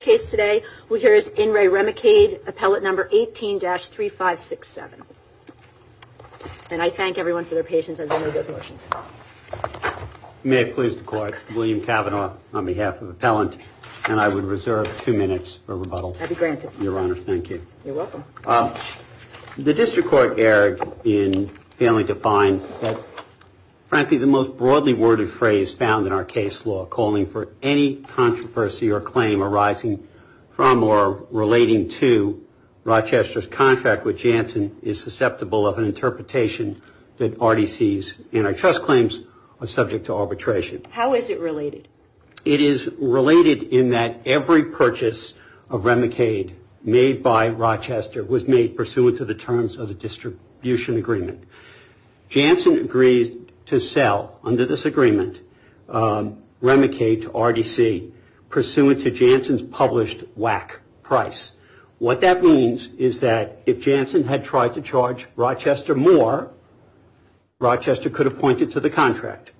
case today we hear is In Re Remicade appellate number 18-3567. And I thank everyone for their patience as I move those motions. May it please the court, William Cavanaugh on behalf of appellant and I would reserve two minutes for rebuttal. I'd be granted. Your honor, thank you. You're welcome. The district court erred in failing to find frankly the most broadly worded phrase found in our case law calling for any controversy or claim arising from or relating to Rochester's contract with Janssen is susceptible of an interpretation that RDC's antitrust claims are subject to arbitration. How is it related? It is related in that every purchase of Remicade made by Rochester was made pursuant to the terms of the distribution agreement. Janssen agreed to sell under this agreement Remicade to RDC pursuant to Janssen's published WAC price. What that means is that if Janssen had tried to charge Rochester more, Rochester could have pointed to the contract.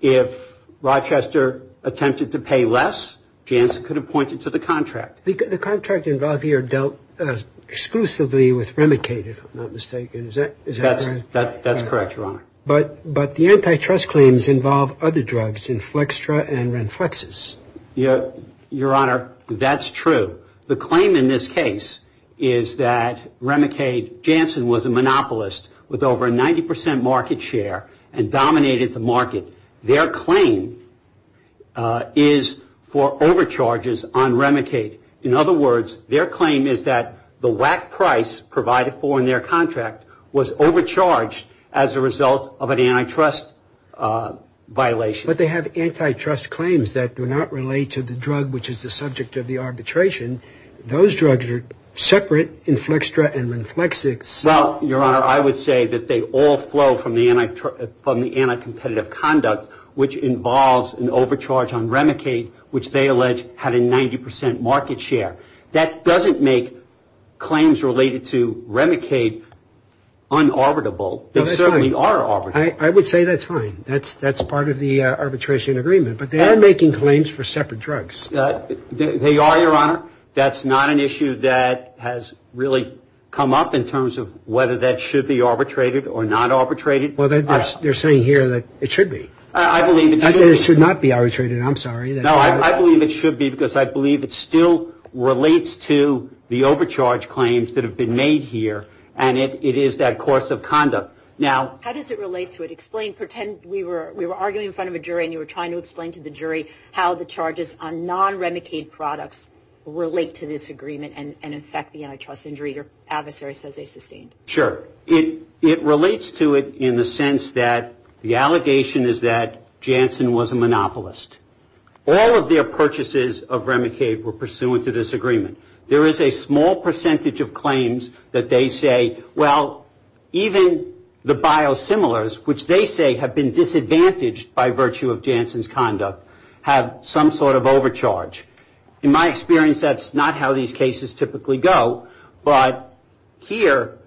If Rochester attempted to pay less, Janssen could have pointed to the contract. The contract involved here dealt exclusively with Remicade if I'm not mistaken. That's correct, your honor. But the antitrust claims involve other drugs in Flextra and Renflexes. Your honor, that's true. The claim in this case is that Remicade Janssen was a monopolist with over a 90% market share and dominated the market. Their claim is for overcharges on Remicade. In other words, their claim is that the WAC price provided for in their contract was overcharged as a result of an antitrust violation. But they have antitrust claims that do not relate to the drug which is the subject of the arbitration. Those drugs are separate in Flextra and Renflexes. Well, your honor, I would say that they all flow from the anti-competitive conduct which involves an overcharge on Remicade which they allege had a 90% market share. That doesn't make claims related to Remicade un-arbitrable. They certainly are arbitrable. I would say that's fine. That's part of the arbitration agreement. But they are making claims for separate drugs. They are, your honor. That's not an issue that has really come up in terms of whether that should be arbitrated or not arbitrated. Well, they're saying here that it should be. I believe it should be. It should not be arbitrated. I'm sorry. No, I believe it should be because I believe it still relates to the overcharge claims that have been made here and it is that course of conduct. Now How does it relate to it? Explain. Pretend we were arguing in front of a jury and you were trying to explain to the jury how the charges on non-Remicade products relate to this agreement and affect the antitrust injury your adversary says they sustained. Sure. It relates to it in the sense that the allegation is that Janssen was a monopolist. All of their purchases of Remicade were pursuant to this agreement. There is a small percentage of claims that they say, well, even the biosimilars, which they say have been disadvantaged by virtue of Janssen's conduct, have some sort of overcharge. In my experience, that's not how these cases typically go, but here,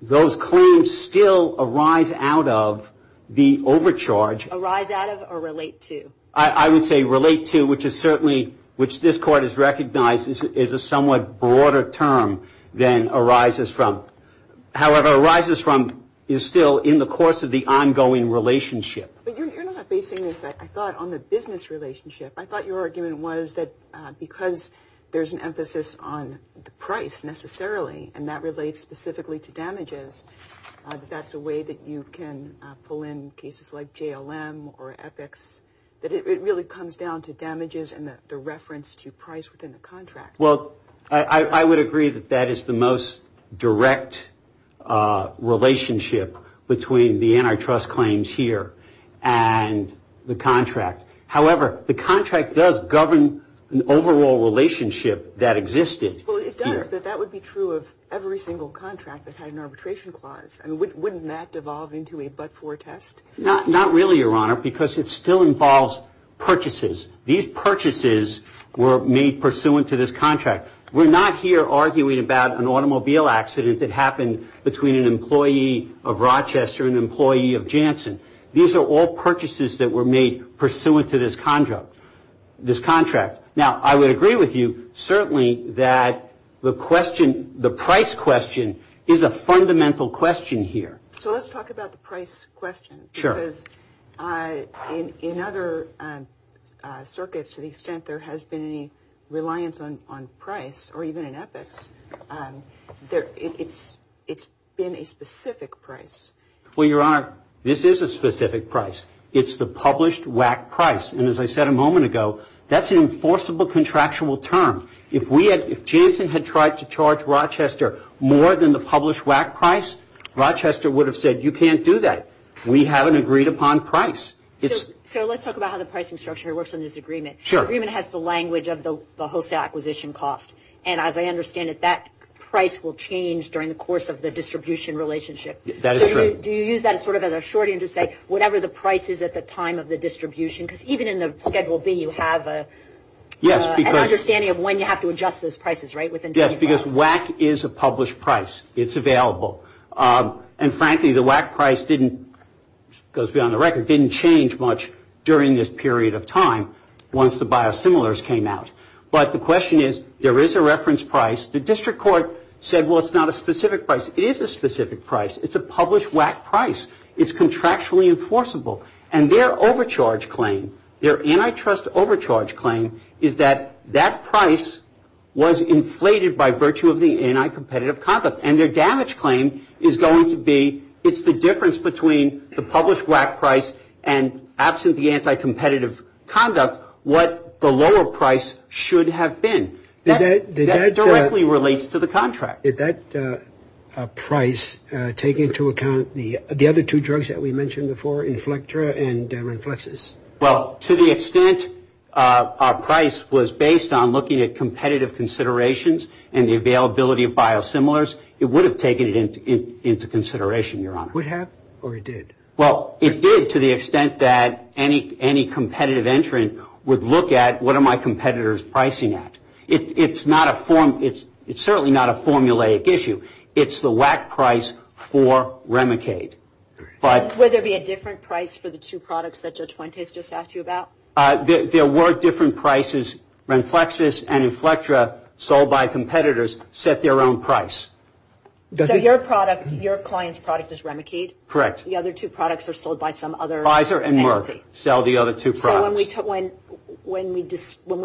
those claims still arise out of the overcharge. Arise out of or relate to? I would say relate to, which is certainly, which this Court has recognized is a somewhat broader term than arises from. However, arises from is still in the course of the ongoing relationship. But you're not basing this, I thought, on the business relationship. I thought your argument was that because there's an emphasis on the price, necessarily, and that relates specifically to damages, that that's a way that you can pull in cases like JLM or EPICS, that it really comes down to damages and the reference to price within the contract. Well, I would agree that that is the most direct relationship between the antitrust claims here and the contract. However, the contract does govern an overall relationship that existed. Well, it does, but that would be true of every single contract that had an arbitration clause. I mean, wouldn't that devolve into a but-for test? Not really, Your Honor, because it still involves purchases. These purchases were made pursuant to this contract. We're not here arguing about an automobile accident that happened between an employee of Rochester and an employee of Janssen. These are all purchases that were made pursuant to this contract. Now, I would agree with you, certainly, that the price question is a fundamental question here. So let's talk about the price question, because in other circuits, to the extent there has been any reliance on price, or even in EPICS, it's been a specific price. Well, Your Honor, this is a specific price. It's the published WAC price. And as I said a moment ago, that's an enforceable contractual term. If Janssen had tried to charge Rochester more than the published WAC price, Rochester would have said, you can't do that. We haven't agreed upon price. So let's talk about how the pricing structure works in this agreement. Sure. The agreement has the language of the wholesale acquisition cost. And as I understand it, that price will change during the course of the distribution relationship. That is correct. So do you use that sort of as a shorthand to say, whatever the price is at the time of the distribution? Because even in the Schedule B, you have an understanding of when you have to adjust those prices, right? Yes, because WAC is a published price. It's available. And frankly, the WAC price didn't, it goes beyond the record, didn't change much during this period of time once the biosimilars came out. But the question is, there is a reference price. The district court said, well, it's not a specific price. It is a specific price. It's a published WAC price. It's contractually enforceable. And their overcharge claim, their antitrust overcharge claim, is that that price was inflated by virtue of the anti-competitive conduct. And their damage claim is going to be, it's the difference between the published WAC price and absent the anti-competitive conduct, what the lower price should have been. That directly relates to the contract. Did that price take into account the other two drugs that we mentioned before, Inflectra and Ranflexus? Well, to the extent our price was based on looking at competitive considerations and the availability of biosimilars, it would have taken it into consideration, Your Honor. Would have or it did? Well, it did to the extent that any competitive entrant would look at, what are my competitors pricing at? It's certainly not a formulaic issue. It's the WAC price for Remicade. Would there be a different price for the two products that Judge Fuentes just asked you about? There were different prices. Ranflexus and Inflectra, sold by competitors, set their own price. So your product, your client's product is Remicade? Correct. The other two products are sold by some other entity? Pfizer and Merck sell the other two products. So when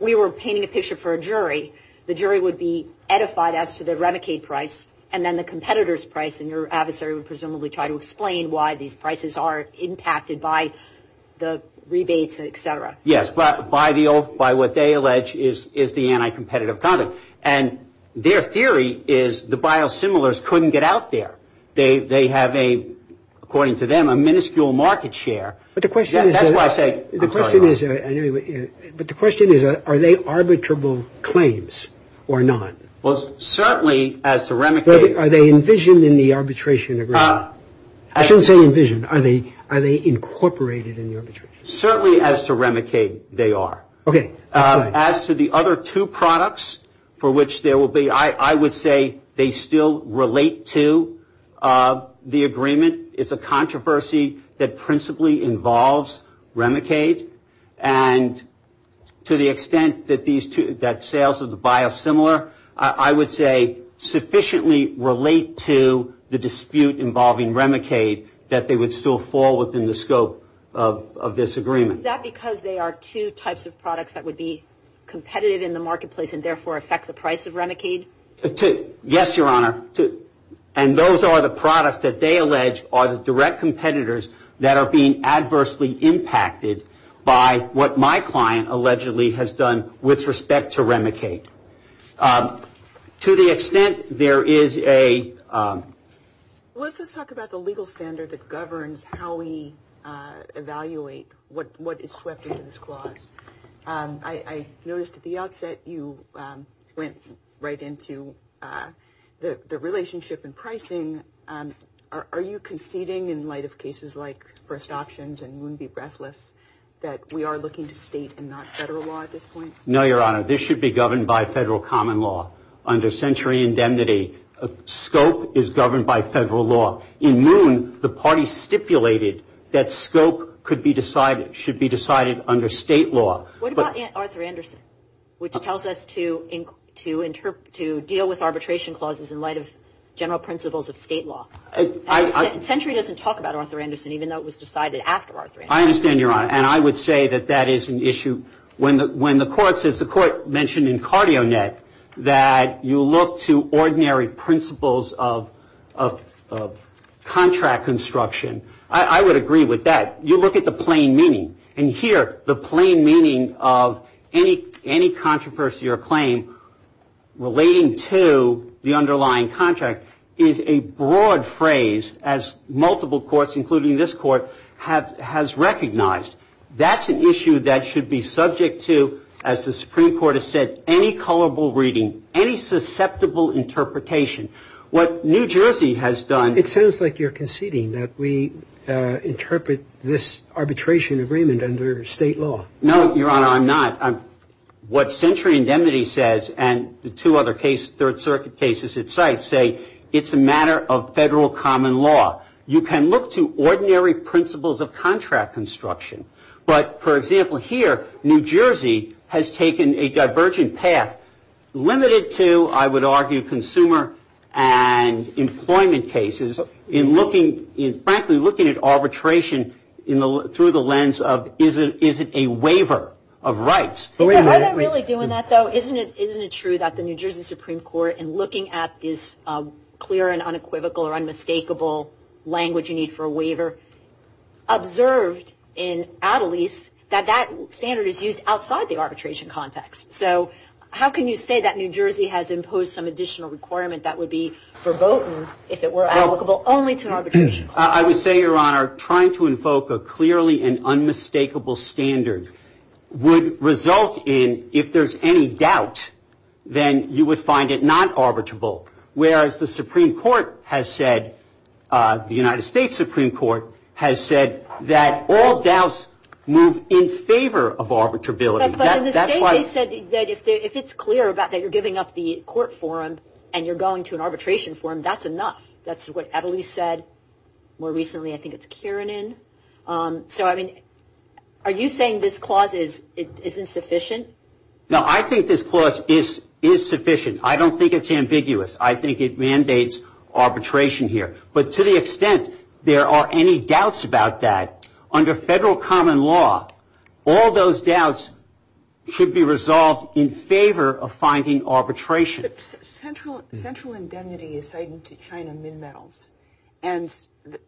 we were painting a picture for a jury, the jury would be edified as to the Remicade price and then the competitor's price and your adversary would presumably try to explain why these prices are impacted by the rebates, et cetera. Yes, but by what they allege is the anti-competitive conduct. And their theory is the biosimilars couldn't get out there. They have a, according to them, a minuscule market share. But the question is, are they arbitrable claims or not? Well, certainly as to Remicade. Are they envisioned in the arbitration agreement? I shouldn't say envisioned. Are they incorporated in the arbitration? Certainly as to Remicade, they are. OK. As to the other two products for which there will be, I would say they still relate to the agreement. It's a controversy that principally involves Remicade. And to the extent that these two, that sales of the biosimilar, I would say sufficiently relate to the dispute involving Remicade that they would still fall within the scope of this agreement. Is that because they are two types of products that would be competitive in the marketplace and therefore affect the price of Remicade? Yes, Your Honor. And those are the products that they allege are the direct competitors that are being adversely impacted by what my client allegedly has done with respect to Remicade. To the extent there is a. Let's talk about the legal standard that governs how we evaluate what is swept into this clause. I noticed at the outset you went right into the relationship in pricing. Are you conceding in light of cases like first options and moon be breathless that we are looking to state and not federal law at this point? No, Your Honor. This should be governed by federal common law under century indemnity. Scope is governed by federal law. In moon, the party stipulated that scope could be decided, should be decided under state law. What about Arthur Anderson, which tells us to deal with arbitration clauses in light of general principles of state law? Century doesn't talk about Arthur Anderson, even though it was decided after Arthur Anderson. I understand, Your Honor. And I would say that that is an issue when the court says the court mentioned in CardioNet that you look to ordinary principles of contract construction. I would agree with that. You look at the plain meaning. And here, the plain meaning of any controversy or claim relating to the underlying contract is a broad phrase as multiple courts, including this court, has recognized. That's an issue that should be subject to, as the Supreme Court has said, any colorable reading, any susceptible interpretation. What New Jersey has done. It sounds like you're conceding that we interpret this arbitration agreement under state law. No, Your Honor, I'm not. What century indemnity says and the two other case third circuit cases it cites say it's a matter of federal common law. You can look to ordinary principles of contract construction. But, for example, here, New Jersey has taken a divergent path limited to, I would argue, consumer and employment cases in looking in frankly, looking at arbitration through the lens of, is it a waiver of rights? Are they really doing that, though? Isn't it? Isn't it true that the New Jersey Supreme Court, in looking at this clear and unequivocal or unmistakable language you need for a waiver, observed in at least that that standard is used outside the arbitration context. So how can you say that New Jersey has imposed some additional requirement that would be verboten if it were applicable only to arbitration? I would say, Your Honor, trying to invoke a clearly and unmistakable standard would result in if there's any doubt, then you would find it not arbitrable. Whereas the Supreme Court has said, the United States Supreme Court, has said that all doubts move in favor of arbitrability. But in the state they said that if it's clear about that you're giving up the court forum and you're going to an arbitration forum, that's enough. That's what Evelisse said more recently. I think it's Kiernan. So, I mean, are you saying this clause is insufficient? No, I think this clause is sufficient. I don't think it's ambiguous. I think it mandates arbitration here. But to the extent there are any doubts about that, under federal common law, all those doubts should be resolved in favor of finding arbitration. But central indemnity is cited to China Minmetals. And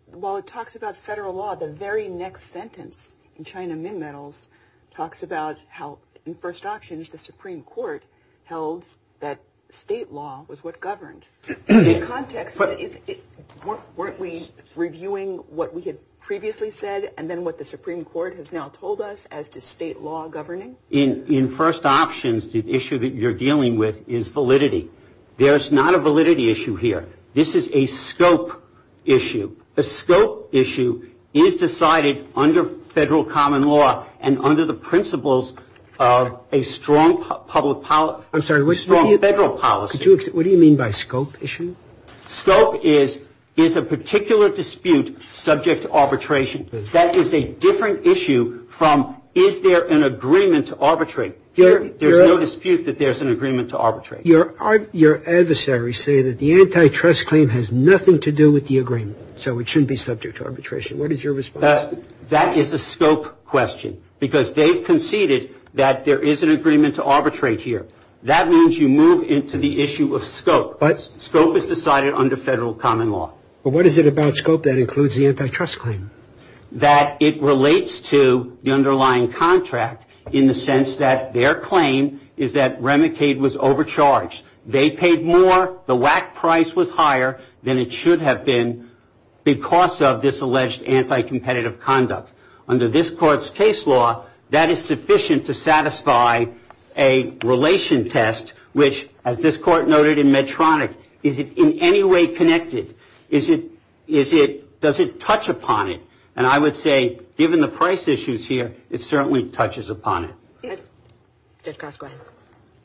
while it talks about federal law, the very next sentence in China Minmetals talks about how in first auctions the Supreme Court held that state law was what governed. In context, weren't we reviewing what we had previously said and then what the Supreme Court has now told us as to state law governing? In first options, the issue that you're dealing with is validity. There is not a validity issue here. This is a scope issue. The scope issue is decided under federal common law and under the principles of a strong public policy. I'm sorry. Federal policy. What do you mean by scope issue? Scope is, is a particular dispute subject to arbitration. That is a different issue from, is there an agreement to arbitrate? There's no dispute that there's an agreement to arbitrate. Your adversaries say that the antitrust claim has nothing to do with the agreement, so it shouldn't be subject to arbitration. What is your response? That is a scope question because they conceded that there is an agreement to arbitrate here. That means you move into the issue of scope. But scope is decided under federal common law. But what is it about scope that includes the antitrust claim? That it relates to the underlying contract in the sense that their claim is that Remicade was overcharged. They paid more. The WAC price was higher than it should have been because of this alleged anti-competitive conduct. Under this court's case law, that is sufficient to satisfy a relation test, which as this court noted in Medtronic, is it in any way connected? Is it, is it, does it touch upon it? And I would say, given the price issues here, it certainly touches upon it.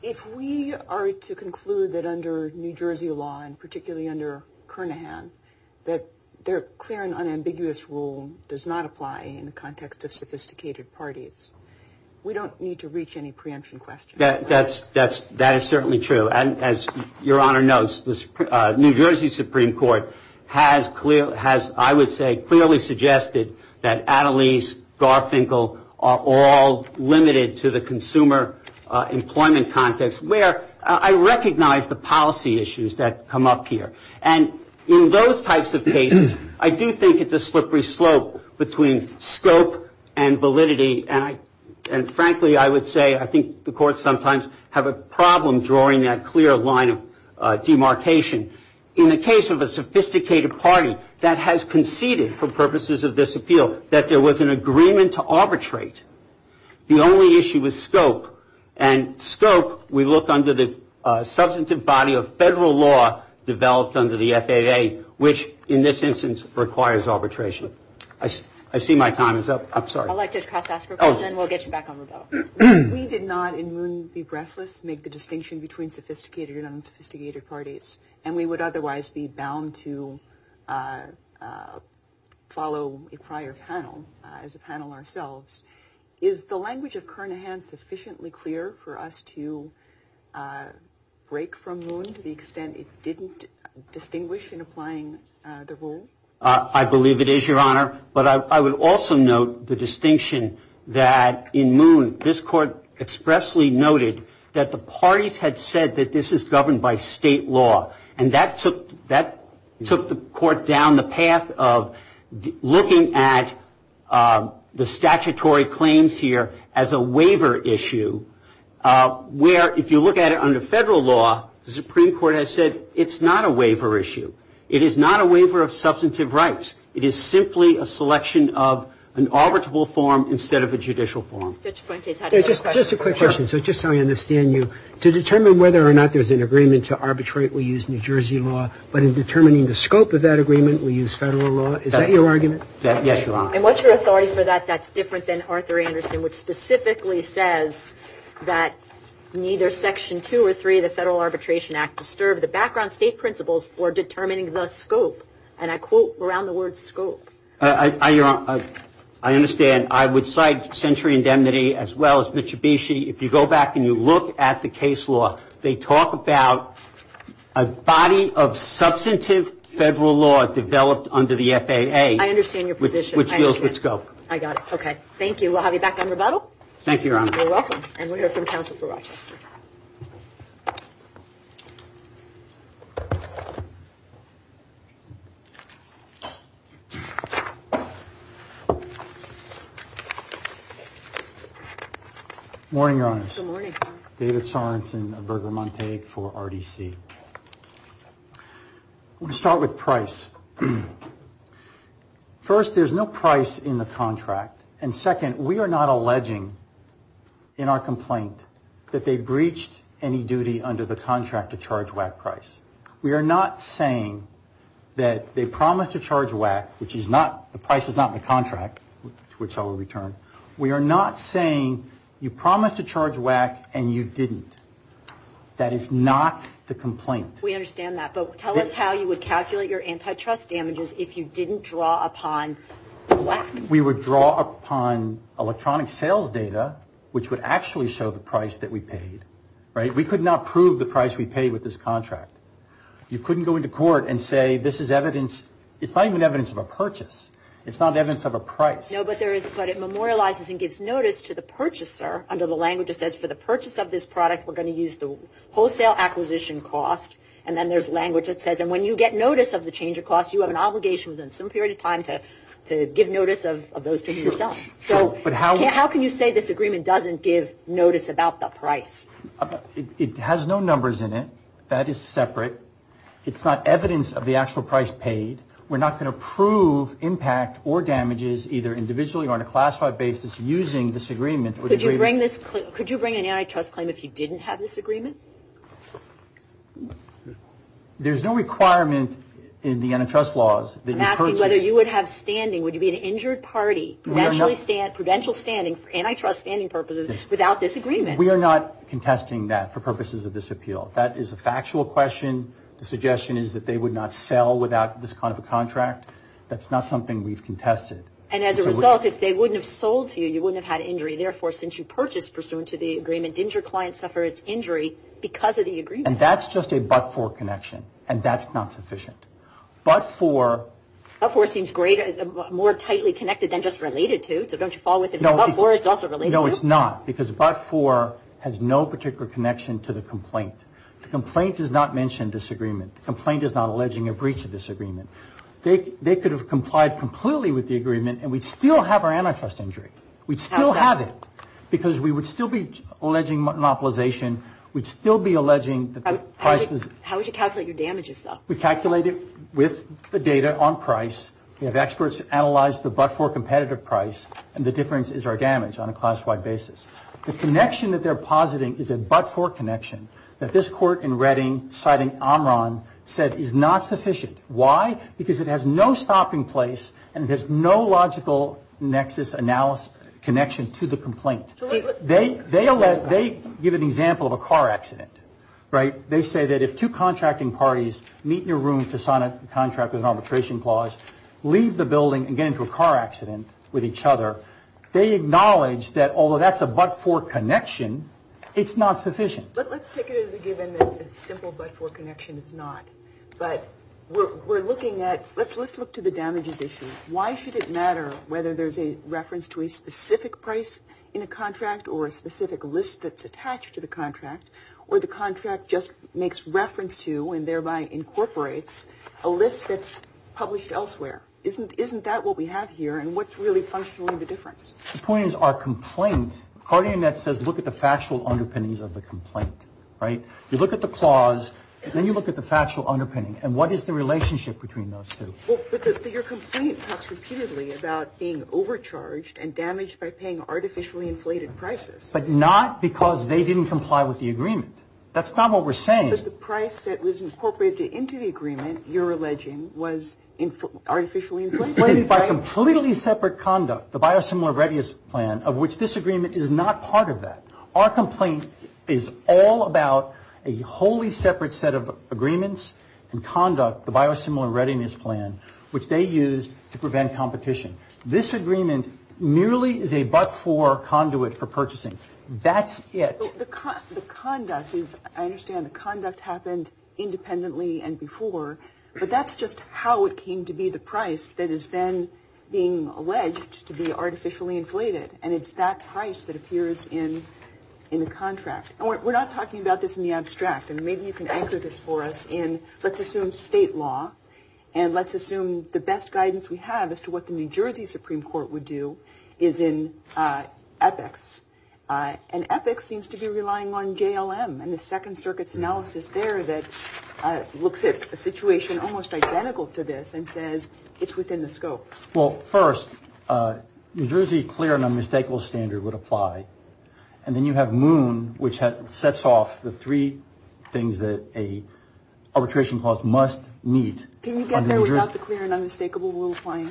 If we are to conclude that under New Jersey law, and particularly under Kernaghan, that their clear and unambiguous rule does not apply. In the context of sophisticated parties, we don't need to reach any preemption questions. That's, that's, that is certainly true. And as your honor knows, the New Jersey Supreme Court has clear, has, I would say, clearly suggested that Attalees, Garfinkel are all limited to the consumer employment context. Where I recognize the policy issues that come up here. And in those types of cases, I do think it's a slippery slope between scope and validity. And I, and frankly, I would say, I think the courts sometimes have a problem drawing that clear line of demarcation. In the case of a sophisticated party that has conceded for purposes of this appeal, that there was an agreement to arbitrate. The only issue was scope and scope. We looked under the substantive body of federal law developed under the FAA, which in this instance, requires arbitration. I see my time is up. I'm sorry. I'd like to ask a question and then we'll get you back on the go. We did not, in Moon v. Breathless, make the distinction between sophisticated and unsophisticated parties. And we would otherwise be bound to follow a prior panel as a panel ourselves. Is the language of Kernahan sufficiently clear for us to break from Moon to the extent it didn't distinguish in applying the rule? I believe it is, Your Honor. But I would also note the distinction that in Moon, this court expressly noted that the parties had said that this is governed by state law. And that took the court down the path of looking at the statutory claims here as a waiver issue, where if you look at it under federal law, the Supreme Court has said it's not a waiver issue. It is not a waiver of substantive rights. It is simply a selection of an arbitrable form instead of a judicial form. Judge Fuentes had a question. Just a quick question. So just so I understand you, to determine whether or not there's an agreement to arbitrate, we use New Jersey law. But in determining the scope of that agreement, we use federal law. Is that your argument? Yes, Your Honor. And what's your authority for that? That's different than Arthur Anderson, which specifically says that neither Section 2 or 3 of the Federal Arbitration Act disturb the background state principles for determining the scope. And I quote around the word scope. Your Honor, I understand. I would cite Century Indemnity as well as Mitsubishi. If you go back and you look at the case law, they talk about a body of substantive federal law developed under the FAA. I understand your position. Which deals with scope. I got it. Okay. Thank you. We'll have you back on rebuttal. Thank you, Your Honor. You're welcome. And we'll hear from counsel for Rochester. Good morning, Your Honors. David Sorensen of Berger Montague for RDC. We'll start with price. First, there's no price in the contract. And second, we are not alleging in our complaint that they breached any duty under the contract to charge WAC price. We are not saying that they promised to charge WAC, which is not, the price is not in the contract, which I will return. We are not saying you promised to charge WAC and you didn't. That is not the complaint. We understand that. But tell us how you would calculate your antitrust damages if you didn't draw upon WAC. We would draw upon electronic sales data, which would actually show the price that we paid. Right? We could not prove the price we paid with this contract. You couldn't go into court and say this is evidence. It's not even evidence of a purchase. It's not evidence of a price. No, but there is, but it memorializes and gives notice to the purchaser under the language that says for the purchase of this product, we're going to use the wholesale acquisition cost. And then there's language that says, and when you get notice of the change of cost, you have an obligation within some period of time to give notice of those to yourself. So how can you say this agreement doesn't give notice about the price? It has no numbers in it. That is separate. It's not evidence of the actual price paid. We're not going to prove impact or damages either individually or on a classified basis using this agreement. Could you bring an antitrust claim if you didn't have this agreement? There's no requirement in the antitrust laws. I'm asking whether you would have standing. Would you be an injured party, provincial standing for antitrust standing purposes without this agreement? We are not contesting that for purposes of this appeal. That is a factual question. The suggestion is that they would not sell without this kind of a contract. That's not something we've contested. And as a result, if they wouldn't have sold to you, you wouldn't have had injury. Therefore, since you purchased pursuant to the agreement, didn't your client suffer its injury because of the agreement? And that's just a but-for connection. And that's not sufficient. But-for. But-for seems greater, more tightly connected than just related to. So don't you fall with it? But-for, it's also related to. No, it's not because but-for has no particular connection to the complaint. The complaint does not mention disagreement. The complaint is not alleging a breach of this agreement. They could have complied completely with the agreement and we'd still have our antitrust injury. We'd still have it because we would still be alleging monopolization. We'd still be alleging that the price was. How would you calculate your damages, though? We calculate it with the data on price. We have experts analyze the but-for competitive price. And the difference is our damage on a class-wide basis. The connection that they're positing is a but-for connection that this court in Redding, citing Amran, said is not sufficient. Why? Because it has no stopping place and it has no logical nexus, analysis, connection to the complaint. They give an example of a car accident, right? They say that if two contracting parties meet in a room to sign a contract with an arbitration clause, leave the building and get into a car accident with each other, they acknowledge that although that's a but-for connection, it's not sufficient. But let's take it as a given that a simple but-for connection is not. But we're looking at, let's look to the damages issue. Why should it matter whether there's a reference to a specific price in a contract or a specific list that's attached to the contract, or the contract just makes reference to and thereby incorporates a list that's published elsewhere? Isn't that what we have here? And what's really functionally the difference? The point is our complaint, Cartier-Nett says look at the factual underpinnings of the complaint, right? You look at the clause, then you look at the factual underpinning. And what is the relationship between those two? Well, but your complaint talks repeatedly about being overcharged and damaged by paying artificially inflated prices. But not because they didn't comply with the agreement. That's not what we're saying. But the price that was incorporated into the agreement, you're alleging, was artificially inflated, right? Inflated by completely separate conduct, the biosimilar readiness plan, of which this agreement is not part of that. Our complaint is all about a wholly separate set of agreements and conduct, the biosimilar readiness plan, which they used to prevent competition. This agreement merely is a but-for conduit for purchasing. That's it. The conduct is, I understand the conduct happened independently and before. But that's just how it came to be, the price that is then being alleged to be artificially inflated. And it's that price that appears in the contract. And we're not talking about this in the abstract. And maybe you can anchor this for us in, let's assume state law. And let's assume the best guidance we have as to what the New Jersey Supreme Court would do is in epics. And epics seems to be relying on JLM and the Second Circuit's analysis there that looks at a situation almost identical to this and says it's within the scope. Well, first, New Jersey clear and unmistakable standard would apply. And then you have Moon, which sets off the three things that a arbitration clause must meet. Can you get there without the clear and unmistakable rule applying?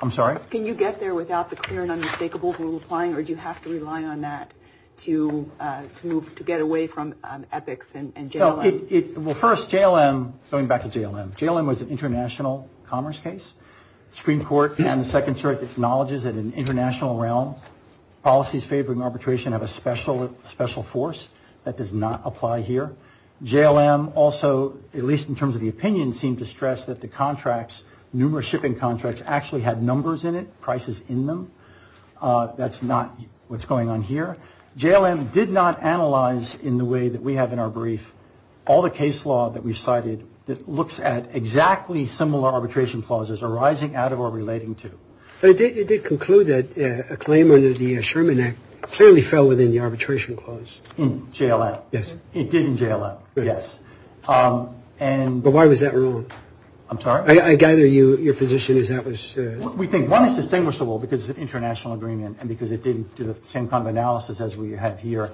I'm sorry? Can you get there without the clear and unmistakable rule applying? Or do you have to rely on that to move, to get away from epics and JLM? Well, first, JLM, going back to JLM. JLM was an international commerce case. Supreme Court and the Second Circuit acknowledges that in an international realm, policies favoring arbitration have a special force. That does not apply here. JLM also, at least in terms of the opinion, seemed to stress that the contracts, numerous shipping contracts, actually had numbers in it, prices in them. That's not what's going on here. JLM did not analyze in the way that we have in our brief all the case law that we've cited that looks at exactly similar arbitration clauses arising out of or relating to. But it did conclude that a claim under the Sherman Act clearly fell within the arbitration clause. In JLM. Yes. It did in JLM. Yes. And. But why was that rule? I'm sorry? I gather you, your position is that was. We think one is distinguishable because of international agreement and because it didn't do the same kind of analysis as we have here.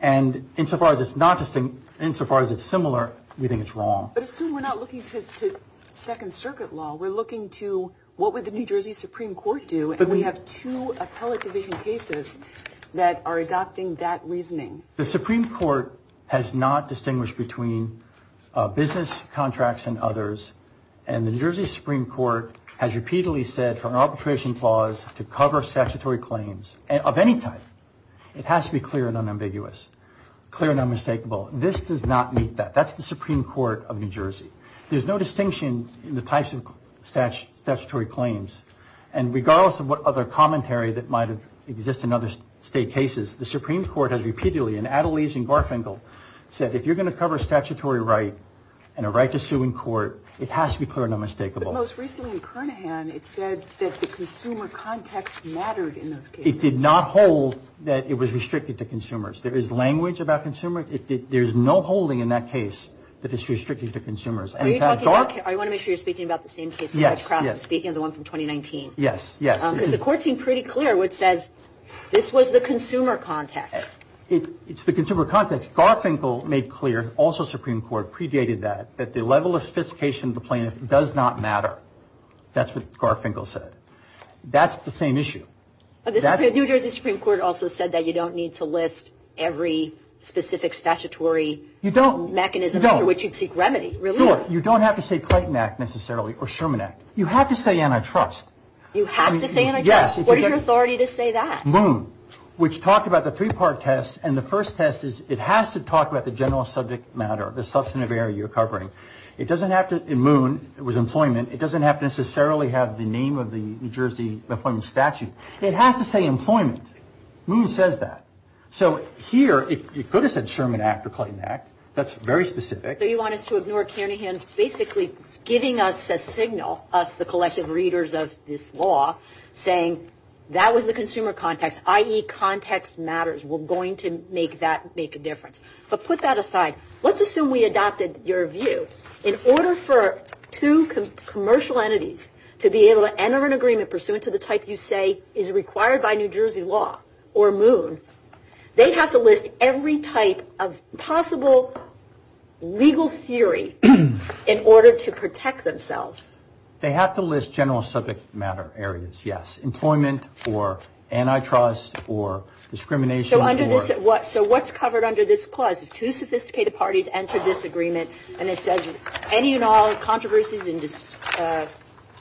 And insofar as it's not distinct, insofar as it's similar, we think it's wrong. But assume we're not looking to Second Circuit law. We're looking to what would the New Jersey Supreme Court do? But we have two appellate division cases that are adopting that reasoning. The Supreme Court has not distinguished between business contracts and others. And the New Jersey Supreme Court has repeatedly said for an arbitration clause to cover statutory claims of any type. It has to be clear and unambiguous, clear and unmistakable. This does not meet that. That's the Supreme Court of New Jersey. There's no distinction in the types of statutory claims. And regardless of what other commentary that might have existed in other state cases, the Supreme Court has repeatedly in Adelaide and Garfinkel said, if you're going to cover statutory right and a right to sue in court, it has to be clear and unmistakable. Most recently in Kernaghan, it said that the consumer context mattered. It did not hold that it was restricted to consumers. There is language about consumers. There's no holding in that case that is restricted to consumers. I want to make sure you're speaking about the same case. Yes. Speaking of the one from 2019. Yes. Yes. Because the court seemed pretty clear what says this was the consumer context. It's the consumer context. Garfinkel made clear, also Supreme Court, predated that, that the level of sophistication of the plaintiff does not matter. That's what Garfinkel said. That's the same issue. But the New Jersey Supreme Court also said that you don't need to list every specific statutory mechanism under which you'd seek remedy. You don't have to say Clayton Act, necessarily, or Sherman Act. You have to say antitrust. You have to say antitrust? Yes. What is your authority to say that? MOON, which talked about the three part test. And the first test is it has to talk about the general subject matter, the substantive area you're covering. It doesn't have to, in MOON, it was employment. It doesn't have to necessarily have the name of the New Jersey employment statute. It has to say employment. MOON says that. So here, it could have said Sherman Act or Clayton Act. That's very specific. So you want us to ignore Canningham's basically giving us a signal, us, the collective readers of this law, saying that was the consumer context, i.e., context matters. We're going to make that make a difference. But put that aside. Let's assume we adopted your view. In order for two commercial entities to be able to enter an agreement pursuant to the type you say is required by New Jersey law or MOON, they have to list every type of possible legal theory in order to protect themselves. They have to list general subject matter areas. Yes. Employment or antitrust or discrimination. So what's covered under this clause? Two sophisticated parties enter this agreement and it says any and all controversies and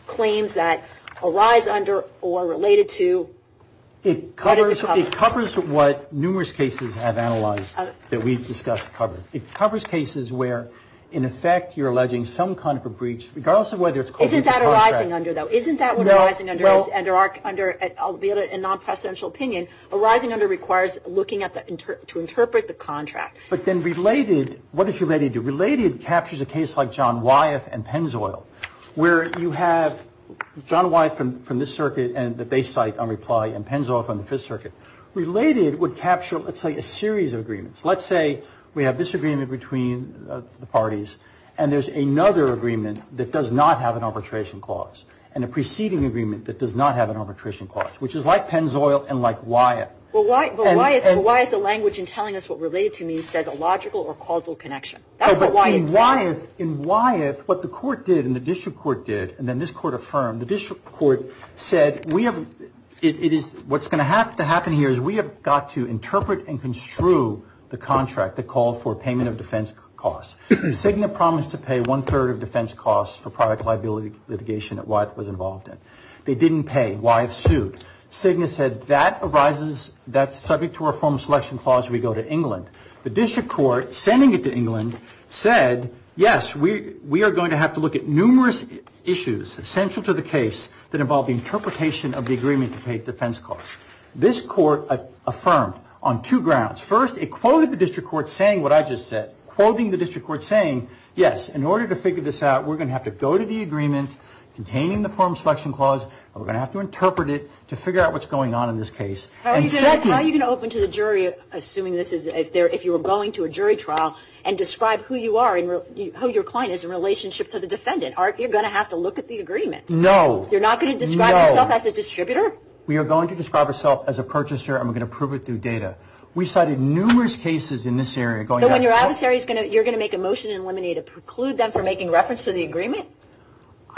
claims that arise under or related to. It covers what numerous cases have analyzed that we've discussed. It covers cases where, in effect, you're alleging some kind of a breach, regardless of whether it's. Isn't that a rising under, though? Isn't that what a rising under is? Under a non-presidential opinion, a rising under requires looking at the, to interpret the contract. But then related, what does related do? Related captures a case like John Wyeth and Pennzoil, where you have John Wyeth from this circuit and the base site on Reply and Pennzoil from the Fifth Circuit. So let's say we have this agreement between the parties and there's another agreement that does not have an arbitration clause and a preceding agreement that does not have an arbitration clause, which is like Pennzoil and like Wyeth. Well, why is the language in telling us what related to me says a logical or causal connection? That's what Wyeth says. In Wyeth, in Wyeth, what the court did and the district court did, and then this court affirmed, the district court said, we have, it is, what's going to have to happen here is we have got to interpret and construe the contract that called for payment of defense costs. Cigna promised to pay one third of defense costs for private liability litigation that Wyeth was involved in. They didn't pay. Wyeth sued. Cigna said that arises, that's subject to our formal selection clause. We go to England. The district court sending it to England said, yes, we, we are going to have to look at numerous issues essential to the case that involve the interpretation of the agreement to pay defense costs. This court affirmed on two grounds. First, it quoted the district court saying what I just said, quoting the district court saying, yes, in order to figure this out, we're going to have to go to the agreement containing the form selection clause. We're going to have to interpret it to figure out what's going on in this case. How are you going to open to the jury, assuming this is if they're, if you were going to a jury trial and describe who you are and who your client is in relationship to the defendant, Art, you're going to have to look at the agreement. No, you're not going to describe yourself as a distributor. We are going to describe ourself as a purchaser. I'm going to prove it through data. We cited numerous cases in this area. Going on your adversary is going to, you're going to make a motion and eliminate it, preclude them from making reference to the agreement.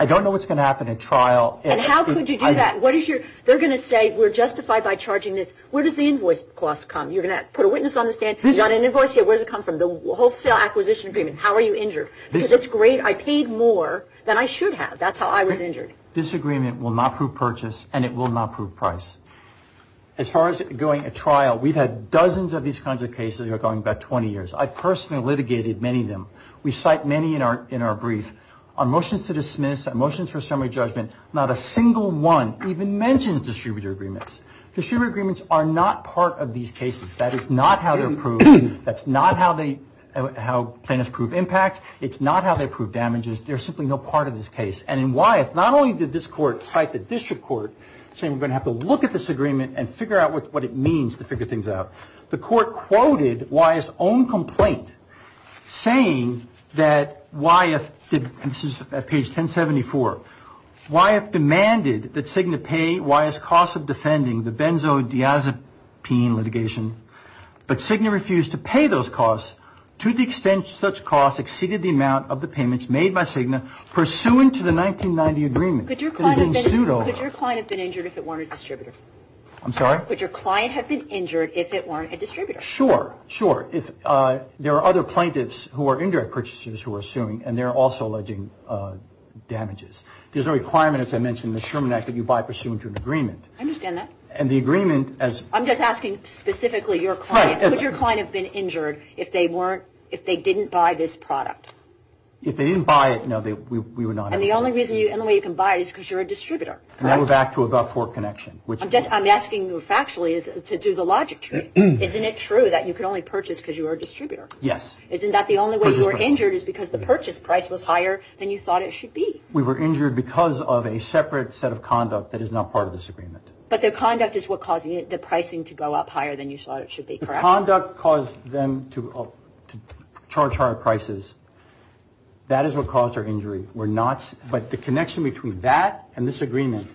I don't know what's going to happen at trial. And how could you do that? What is your, they're going to say we're justified by charging this. Where does the invoice costs come? You're going to put a witness on the stand. You got an invoice here. Where does it come from? The wholesale acquisition agreement. How are you injured? Because it's great. I paid more than I should have. That's how I was injured. This agreement will not prove purchase and it will not prove price. As far as going at trial, we've had dozens of these kinds of cases that are going back 20 years. I personally litigated many of them. We cite many in our brief. Our motions to dismiss, our motions for summary judgment, not a single one even mentions distributor agreements. Distributor agreements are not part of these cases. That is not how they're proved. That's not how plaintiffs prove impact. It's not how they prove damages. They're simply no part of this case. And in Wyeth, not only did this court cite the district court saying we're going to have to look at this agreement and figure out what it means to figure things out. The court quoted Wyeth's own complaint saying that Wyeth, and this is at page 1074, Wyeth demanded that Cigna pay Wyeth's cost of defending the benzodiazepine litigation. But Cigna refused to pay those costs to the extent such costs exceeded the amount of the payments made by Cigna pursuant to the 1990 agreement. Could your client have been injured if it weren't a distributor? I'm sorry? Could your client have been injured if it weren't a distributor? Sure. Sure. If there are other plaintiffs who are indirect purchasers who are suing and they're also alleging damages. There's no requirement, as I mentioned, in the Sherman Act that you buy pursuant to an agreement. I understand that. And the agreement as... I'm just asking specifically your client, could your client have been injured if they weren't, if they didn't buy this product? If they didn't buy it, no, we would not. And the only reason you, and the way you can buy it is because you're a distributor, correct? And now we're back to above fork connection, which... I'm just, I'm asking you factually to do the logic trick. Isn't it true that you could only purchase because you were a distributor? Yes. Isn't that the only way you were injured is because the purchase price was higher than you thought it should be? We were injured because of a separate set of conduct that is not part of this agreement. But the conduct is what caused the pricing to go up higher than you thought it should be, correct? The conduct caused them to charge higher prices. That is what caused our injury. We're not, but the connection between that and this agreement,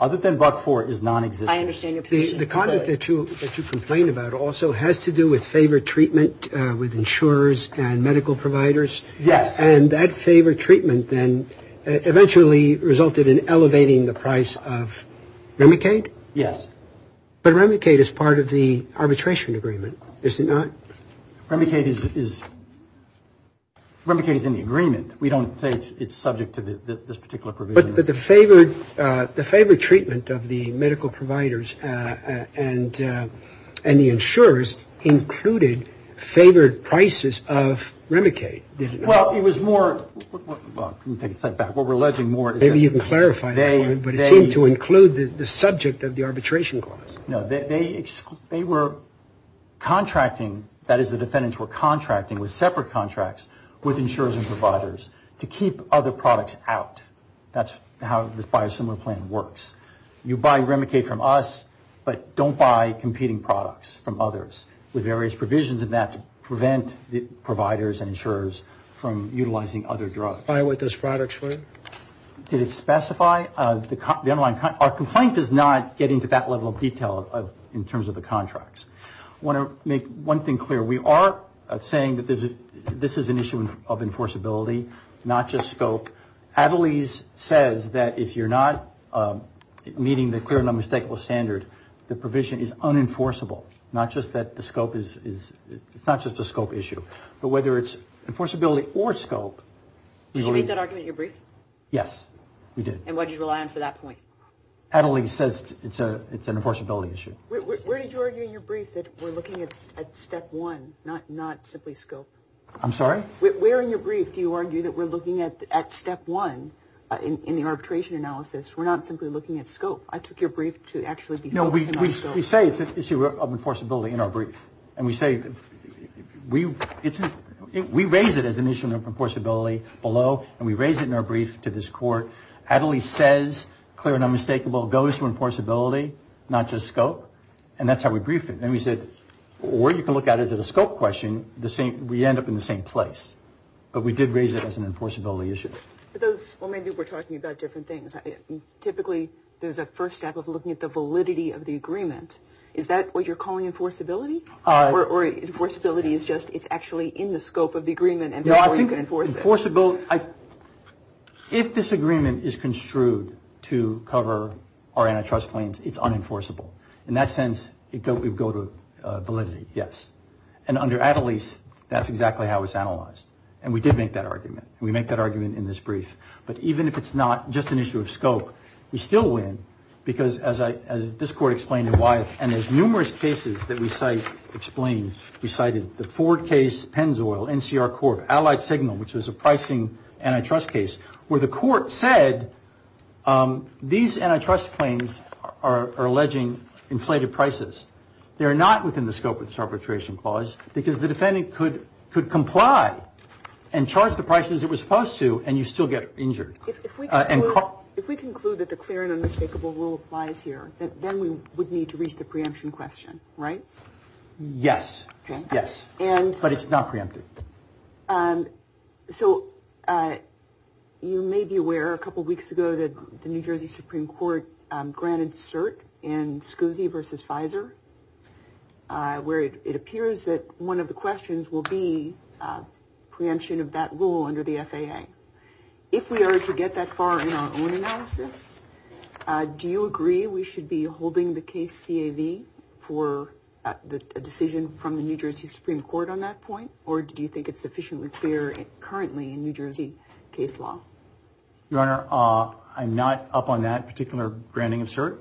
other than buck four, is non-existent. I understand your position. The conduct that you complain about also has to do with favored treatment with insurers and medical providers. Yes. And that favored treatment then eventually resulted in elevating the price of Remicade? Yes. But Remicade is part of the arbitration agreement, is it not? Remicade is, Remicade is in the agreement. We don't say it's subject to this particular provision. But the favored, the favored treatment of the medical providers and the insurers included favored prices of Remicade. Well, it was more, well, let me take a step back. What we're alleging more is that they. Maybe you can clarify that, but it seemed to include the subject of the arbitration clause. No, they were contracting, that is the defendants were contracting with separate contracts with insurers and providers to keep other products out. That's how this biosimilar plan works. You buy Remicade from us, but don't buy competing products from others with various provisions in that to prevent the providers and insurers from utilizing other drugs. By what those products were? Did it specify the underlying? Our complaint does not get into that level of detail in terms of the contracts. I want to make one thing clear. We are saying that this is an issue of enforceability, not just scope. Attlees says that if you're not meeting the clear and unmistakable standard, the provision is unenforceable. Not just that the scope is, it's not just a scope issue, but whether it's enforceability or scope. Did you make that argument in your brief? Yes, we did. And what did you rely on for that point? Attlees says it's an enforceability issue. Where did you argue in your brief that we're looking at step one, not simply scope? I'm sorry? Where in your brief do you argue that we're looking at step one in the arbitration analysis? We're not simply looking at scope. I took your brief to actually be focusing on scope. We say it's an issue of enforceability in our brief. And we say, we raise it as an issue of enforceability below and we raise it in our brief to this court. Attlees says clear and unmistakable goes to enforceability, not just scope. And that's how we brief it. And we said, or you can look at it as a scope question. The same, we end up in the same place. But we did raise it as an enforceability issue. For those, well, maybe we're talking about different things. Typically, there's a first step of looking at the validity of the agreement. Is that what you're calling enforceability? Or enforceability is just, it's actually in the scope of the agreement and therefore you can enforce it? Enforceability, if this agreement is construed to cover our antitrust claims, it's unenforceable. In that sense, it would go to validity, yes. And under Attlees, that's exactly how it's analyzed. And we did make that argument. We make that argument in this brief. But even if it's not just an issue of scope, we still win because as this court explained and why, and there's numerous cases that we cite, explain, we cited the Ford case, Pennzoil, NCR court, Allied Signal, which was a pricing antitrust case, where the court said these antitrust claims are alleging inflated prices. They're not within the scope of this arbitration clause because the defendant could comply and charge the prices it was supposed to and you still get injured. If we conclude that the clear and unmistakable rule applies here, then we would need to reach the preemption question, right? Yes. Yes. And. But it's not preempted. So you may be aware a couple of weeks ago that the New Jersey Supreme Court granted cert in SCSI versus Pfizer, where it appears that one of the questions will be preemption of that rule under the FAA. If we are to get that far in our own analysis, do you agree we should be holding the case CAV for the decision from the New Jersey Supreme Court on that point? Or do you think it's sufficiently clear currently in New Jersey case law? Your Honor, I'm not up on that particular granting of cert.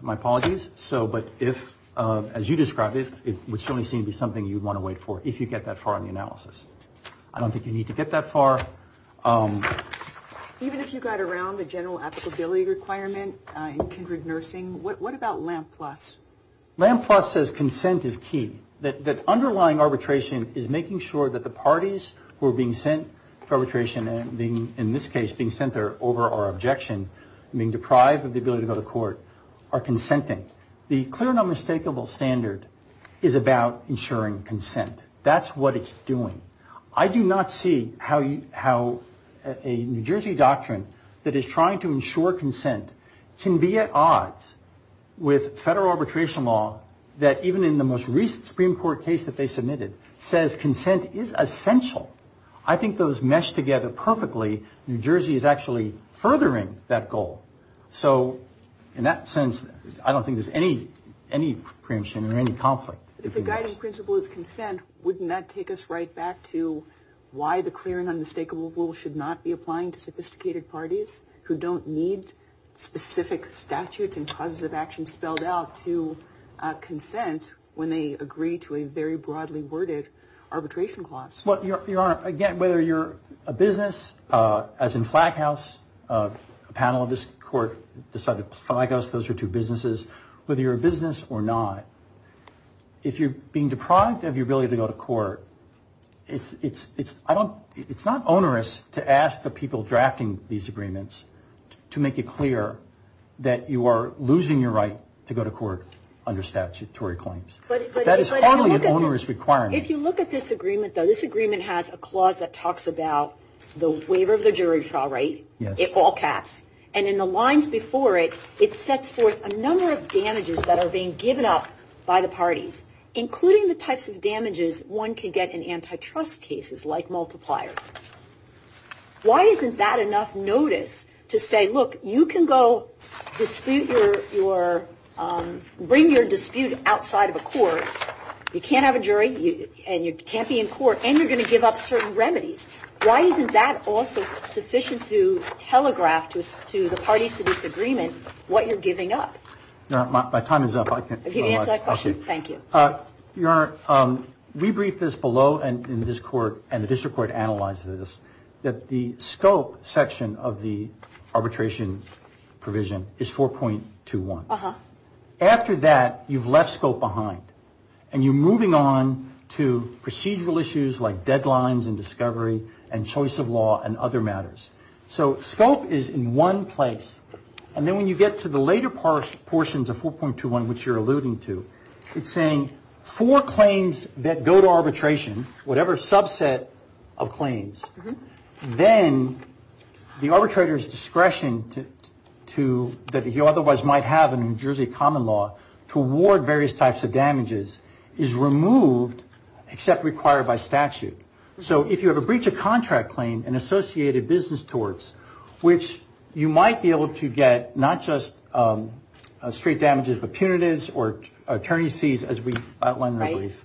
My apologies. So but if, as you described it, it would certainly seem to be something you'd want to wait for if you get that far in the analysis. I don't think you need to get that far. Even if you got around the general applicability requirement in kindred nursing, what about LAMP plus? LAMP plus says consent is key. That underlying arbitration is making sure that the parties who are being sent for arbitration, and in this case being sent there over our objection, being deprived of the ability to go to court, are consenting. The clear and unmistakable standard is about ensuring consent. That's what it's doing. I do not see how a New Jersey doctrine that is trying to ensure consent can be at odds with federal arbitration law that even in the most recent Supreme Court case that they submitted says consent is essential. I think those mesh together perfectly. New Jersey is actually furthering that goal. So in that sense, I don't think there's any preemption or any conflict. If the guiding principle is consent, wouldn't that take us right back to why the clear and unmistakable rule should not be applying to sophisticated parties who don't need specific statutes and causes of action spelled out to consent when they agree to a very broadly worded arbitration clause? Well, Your Honor, again, whether you're a business, as in flag house, a panel of this court decided flag house, those are two businesses, whether you're a business or not. If you're being deprived of your ability to go to court, it's not onerous to ask the people drafting these agreements to make it clear that you are losing your right to go to court under statutory claims. That is only an onerous requirement. If you look at this agreement, though, this agreement has a clause that talks about the waiver of the jury trial, right? Yes. It all caps and in the lines before it, it sets forth a number of damages that are being given up by the parties, including the types of damages one can get in antitrust cases like multipliers. Why isn't that enough notice to say, look, you can go dispute your, bring your dispute outside of a court. You can't have a jury and you can't be in court and you're going to give up certain remedies. Why isn't that also sufficient to telegraph to us, to the parties to this agreement, what you're giving up? No, my time is up. I can't answer that question. Thank you. Your Honor, we briefed this below and in this court and the district court analyzed this, that the scope section of the arbitration provision is 4.21. After that, you've left scope behind and you're moving on to procedural issues like deadlines and discovery and choice of law and other matters. So scope is in one place. And then when you get to the later portions of 4.21, which you're alluding to, it's saying four claims that go to arbitration, whatever subset of claims, then the arbitrator's discretion to, that he otherwise might have in New Jersey common law to award various types of damages is removed except required by statute. So if you have a breach of contract claim and associated business torts, which you might be able to get not just straight damages, but punitives or attorney's fees, as we outlined in the brief,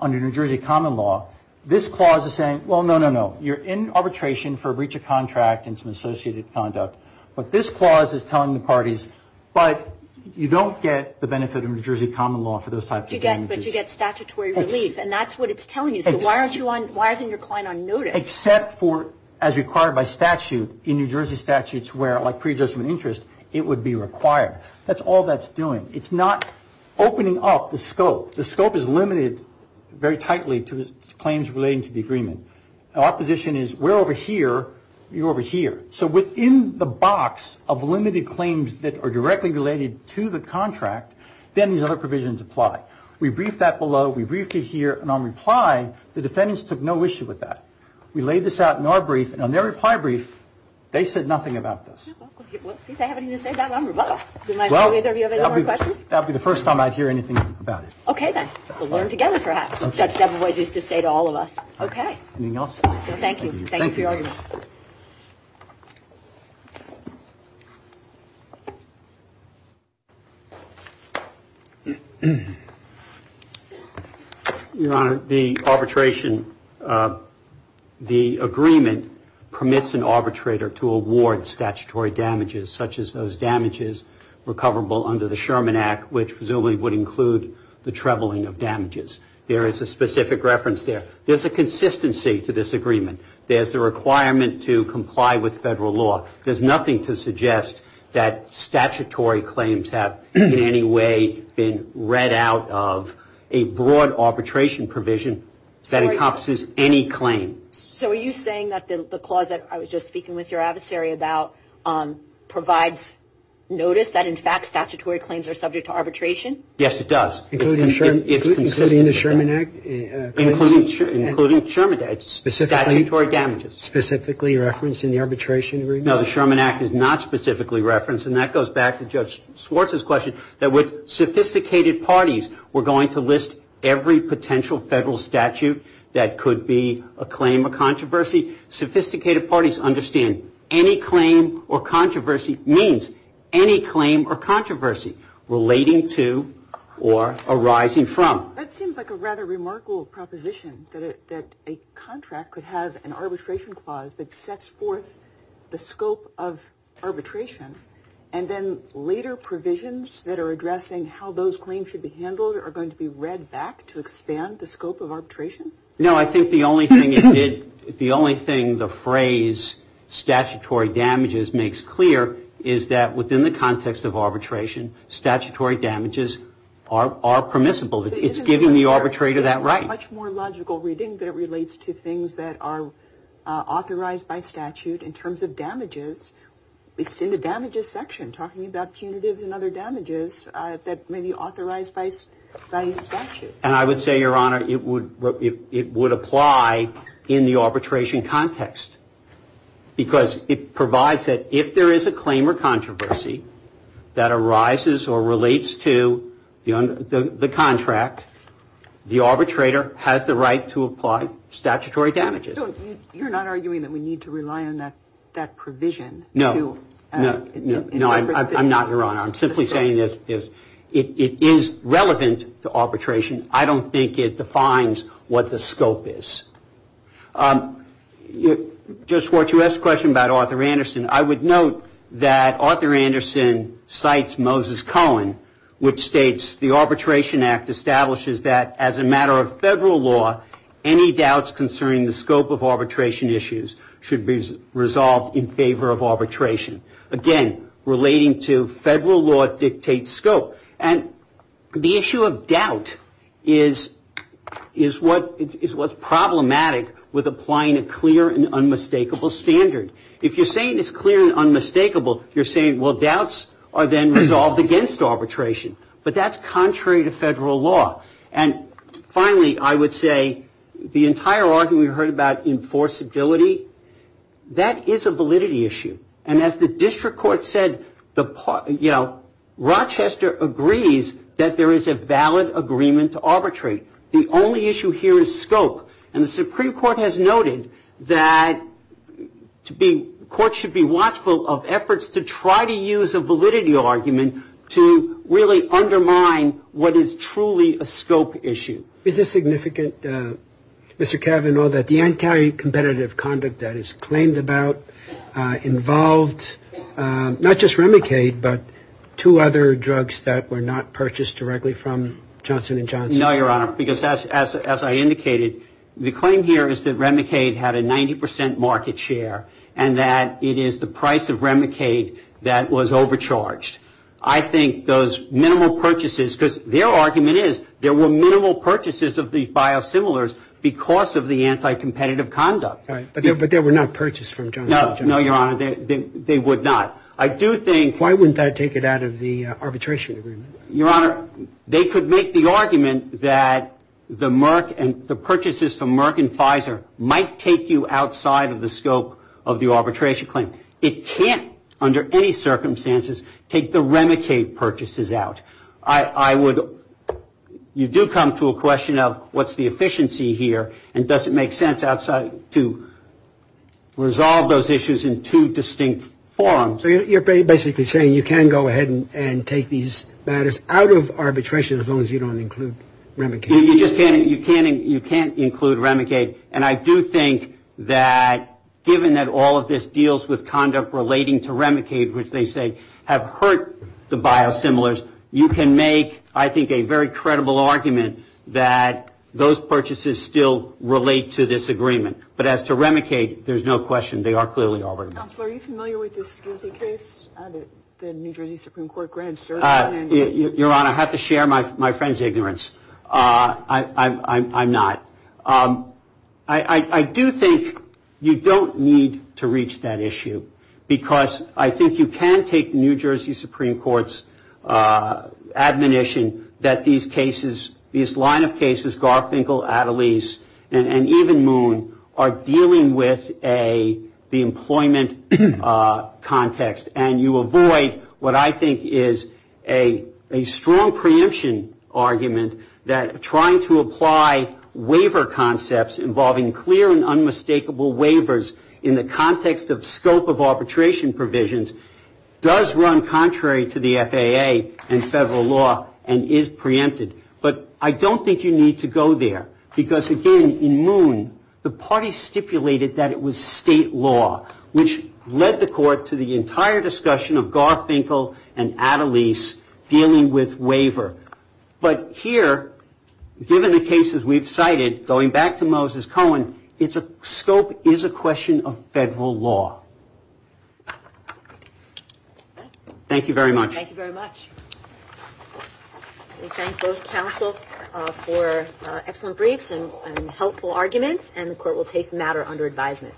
under New Jersey common law. This clause is saying, well, no, no, no. You're in arbitration for a breach of contract and some associated conduct. But this clause is telling the parties, but you don't get the benefit of New Jersey common law for those types of damages. But you get statutory relief and that's what it's telling you. So why aren't you on, why isn't your client on notice? Except for as required by statute in New Jersey statutes where like pre-adjustment interest, it would be required. That's all that's doing. It's not opening up the scope. The scope is limited very tightly to claims relating to the agreement. Our position is we're over here, you're over here. So within the box of limited claims that are directly related to the contract, then these other provisions apply. We briefed that below. We briefed it here. And on reply, the defendants took no issue with that. We laid this out in our brief and on their reply brief, they said nothing about this. Well, since I haven't even said that, I'm rebuttal. Do you mind showing me if you have any more questions? That would be the first time I'd hear anything about it. Okay, then we'll learn together, perhaps, as Judge Debevoise used to say to all of us. Okay. Anything else? Thank you. Thank you for your argument. Your Honor, the arbitration, the agreement permits an arbitrator to award statutory damages such as those damages recoverable under the Sherman Act, which presumably would include the trebling of damages. There is a specific reference there. There's a consistency to this agreement. There's the requirement to comply with federal law. There's nothing to suggest that statutory claims have in any way been read out of a broad arbitration provision that encompasses any claim. So are you saying that the clause that I was just speaking with your adversary about provides notice that, in fact, it's in the arbitration? Yes, it does. Including the Sherman Act? Including the Sherman Act, it's statutory damages. Specifically referenced in the arbitration agreement? No, the Sherman Act is not specifically referenced, and that goes back to Judge Swartz's question, that with sophisticated parties, we're going to list every potential federal statute that could be a claim or controversy. Sophisticated parties understand any claim or controversy means any claim or controversy relating to or arising from. That seems like a rather remarkable proposition, that a contract could have an arbitration clause that sets forth the scope of arbitration, and then later provisions that are addressing how those claims should be handled are going to be read back to expand the scope of arbitration? No, I think the only thing it did, the only thing the phrase statutory damages makes clear is that within the context of arbitration, statutory damages are permissible. It's giving the arbitrator that right. Much more logical reading that it relates to things that are authorized by statute in terms of damages. It's in the damages section, talking about punitives and other damages that may be authorized by statute. And I would say, Your Honor, it would apply in the arbitration context, because it provides that if there is a claim or controversy that arises or relates to the contract, the arbitrator has the right to apply statutory damages. So you're not arguing that we need to rely on that provision? No, I'm not, Your Honor. I'm simply saying that it is relevant to arbitration. I don't think it defines what the scope is. Just what you asked a question about, Arthur Anderson, I would note that Arthur Anderson cites Moses Cohen, which states the Arbitration Act establishes that as a matter of federal law, any doubts concerning the scope of arbitration issues should be resolved in favor of arbitration. Again, relating to federal law dictates scope. And the issue of doubt is what's problematic with applying a clear and unmistakable standard. If you're saying it's clear and unmistakable, you're saying, well, doubts are then resolved against arbitration. But that's contrary to federal law. And finally, I would say the entire argument we heard about enforceability, that is a validity issue. And as the district court said, you know, Rochester agrees that there is a valid agreement to arbitrate. The only issue here is scope. And the Supreme Court has noted that courts should be watchful of efforts to try to use a validity argument to really undermine what is truly a scope issue. Is it significant, Mr. Kavanaugh, that the anti-competitive conduct that is claimed about involved not just Remicade, but two other drugs that were not purchased directly from Johnson & Johnson? No, Your Honor, because as I indicated, the claim here is that Remicade had a 90% market share and that it is the price of Remicade that was overcharged. I think those minimal purchases, because their argument is there were minimal purchases of the biosimilars because of the anti-competitive conduct. But they were not purchased from Johnson & Johnson? No, Your Honor, they would not. I do think... Why wouldn't that take it out of the arbitration agreement? Your Honor, they could make the argument that the purchases from Merck and Pfizer might take you outside of the scope of the arbitration claim. It can't, under any circumstances, take the Remicade purchases out. You do come to a question of what's the efficiency here and does it make sense to resolve those issues in two distinct forums. So you're basically saying you can go ahead and take these matters out of arbitration as long as you don't include Remicade? You can't include Remicade. And I do think that given that all of this deals with conduct relating to Remicade, which they say have hurt the biosimilars, you can make, I think, a very credible argument that those purchases still relate to this agreement. But as to Remicade, there's no question, they are clearly arbitrators. Counselor, are you familiar with the SCSI case? The New Jersey Supreme Court grand jury... Your Honor, I have to share my friend's ignorance. I'm not. I do think you don't need to reach that issue because I think you can take New Jersey Supreme Court's admonition that these cases, these line of cases, Garfinkel, Adelaide and even Moon, are dealing with the employment context. And you avoid what I think is a strong preemption argument that trying to apply waiver concepts involving clear and unmistakable waivers in the context of scope of arbitration provisions does run contrary to the FAA and federal law and is preempted. But I don't think you need to go there because, again, in Moon, the party stipulated that it was state law, which led the court to the entire discussion of Garfinkel and Adelaide's dealing with waiver. But here, given the cases we've cited, going back to Moses Cohen, scope is a question of federal law. Thank you very much. Thank you very much. We thank both counsel for excellent briefs and helpful arguments and the court will take the matter under advisement.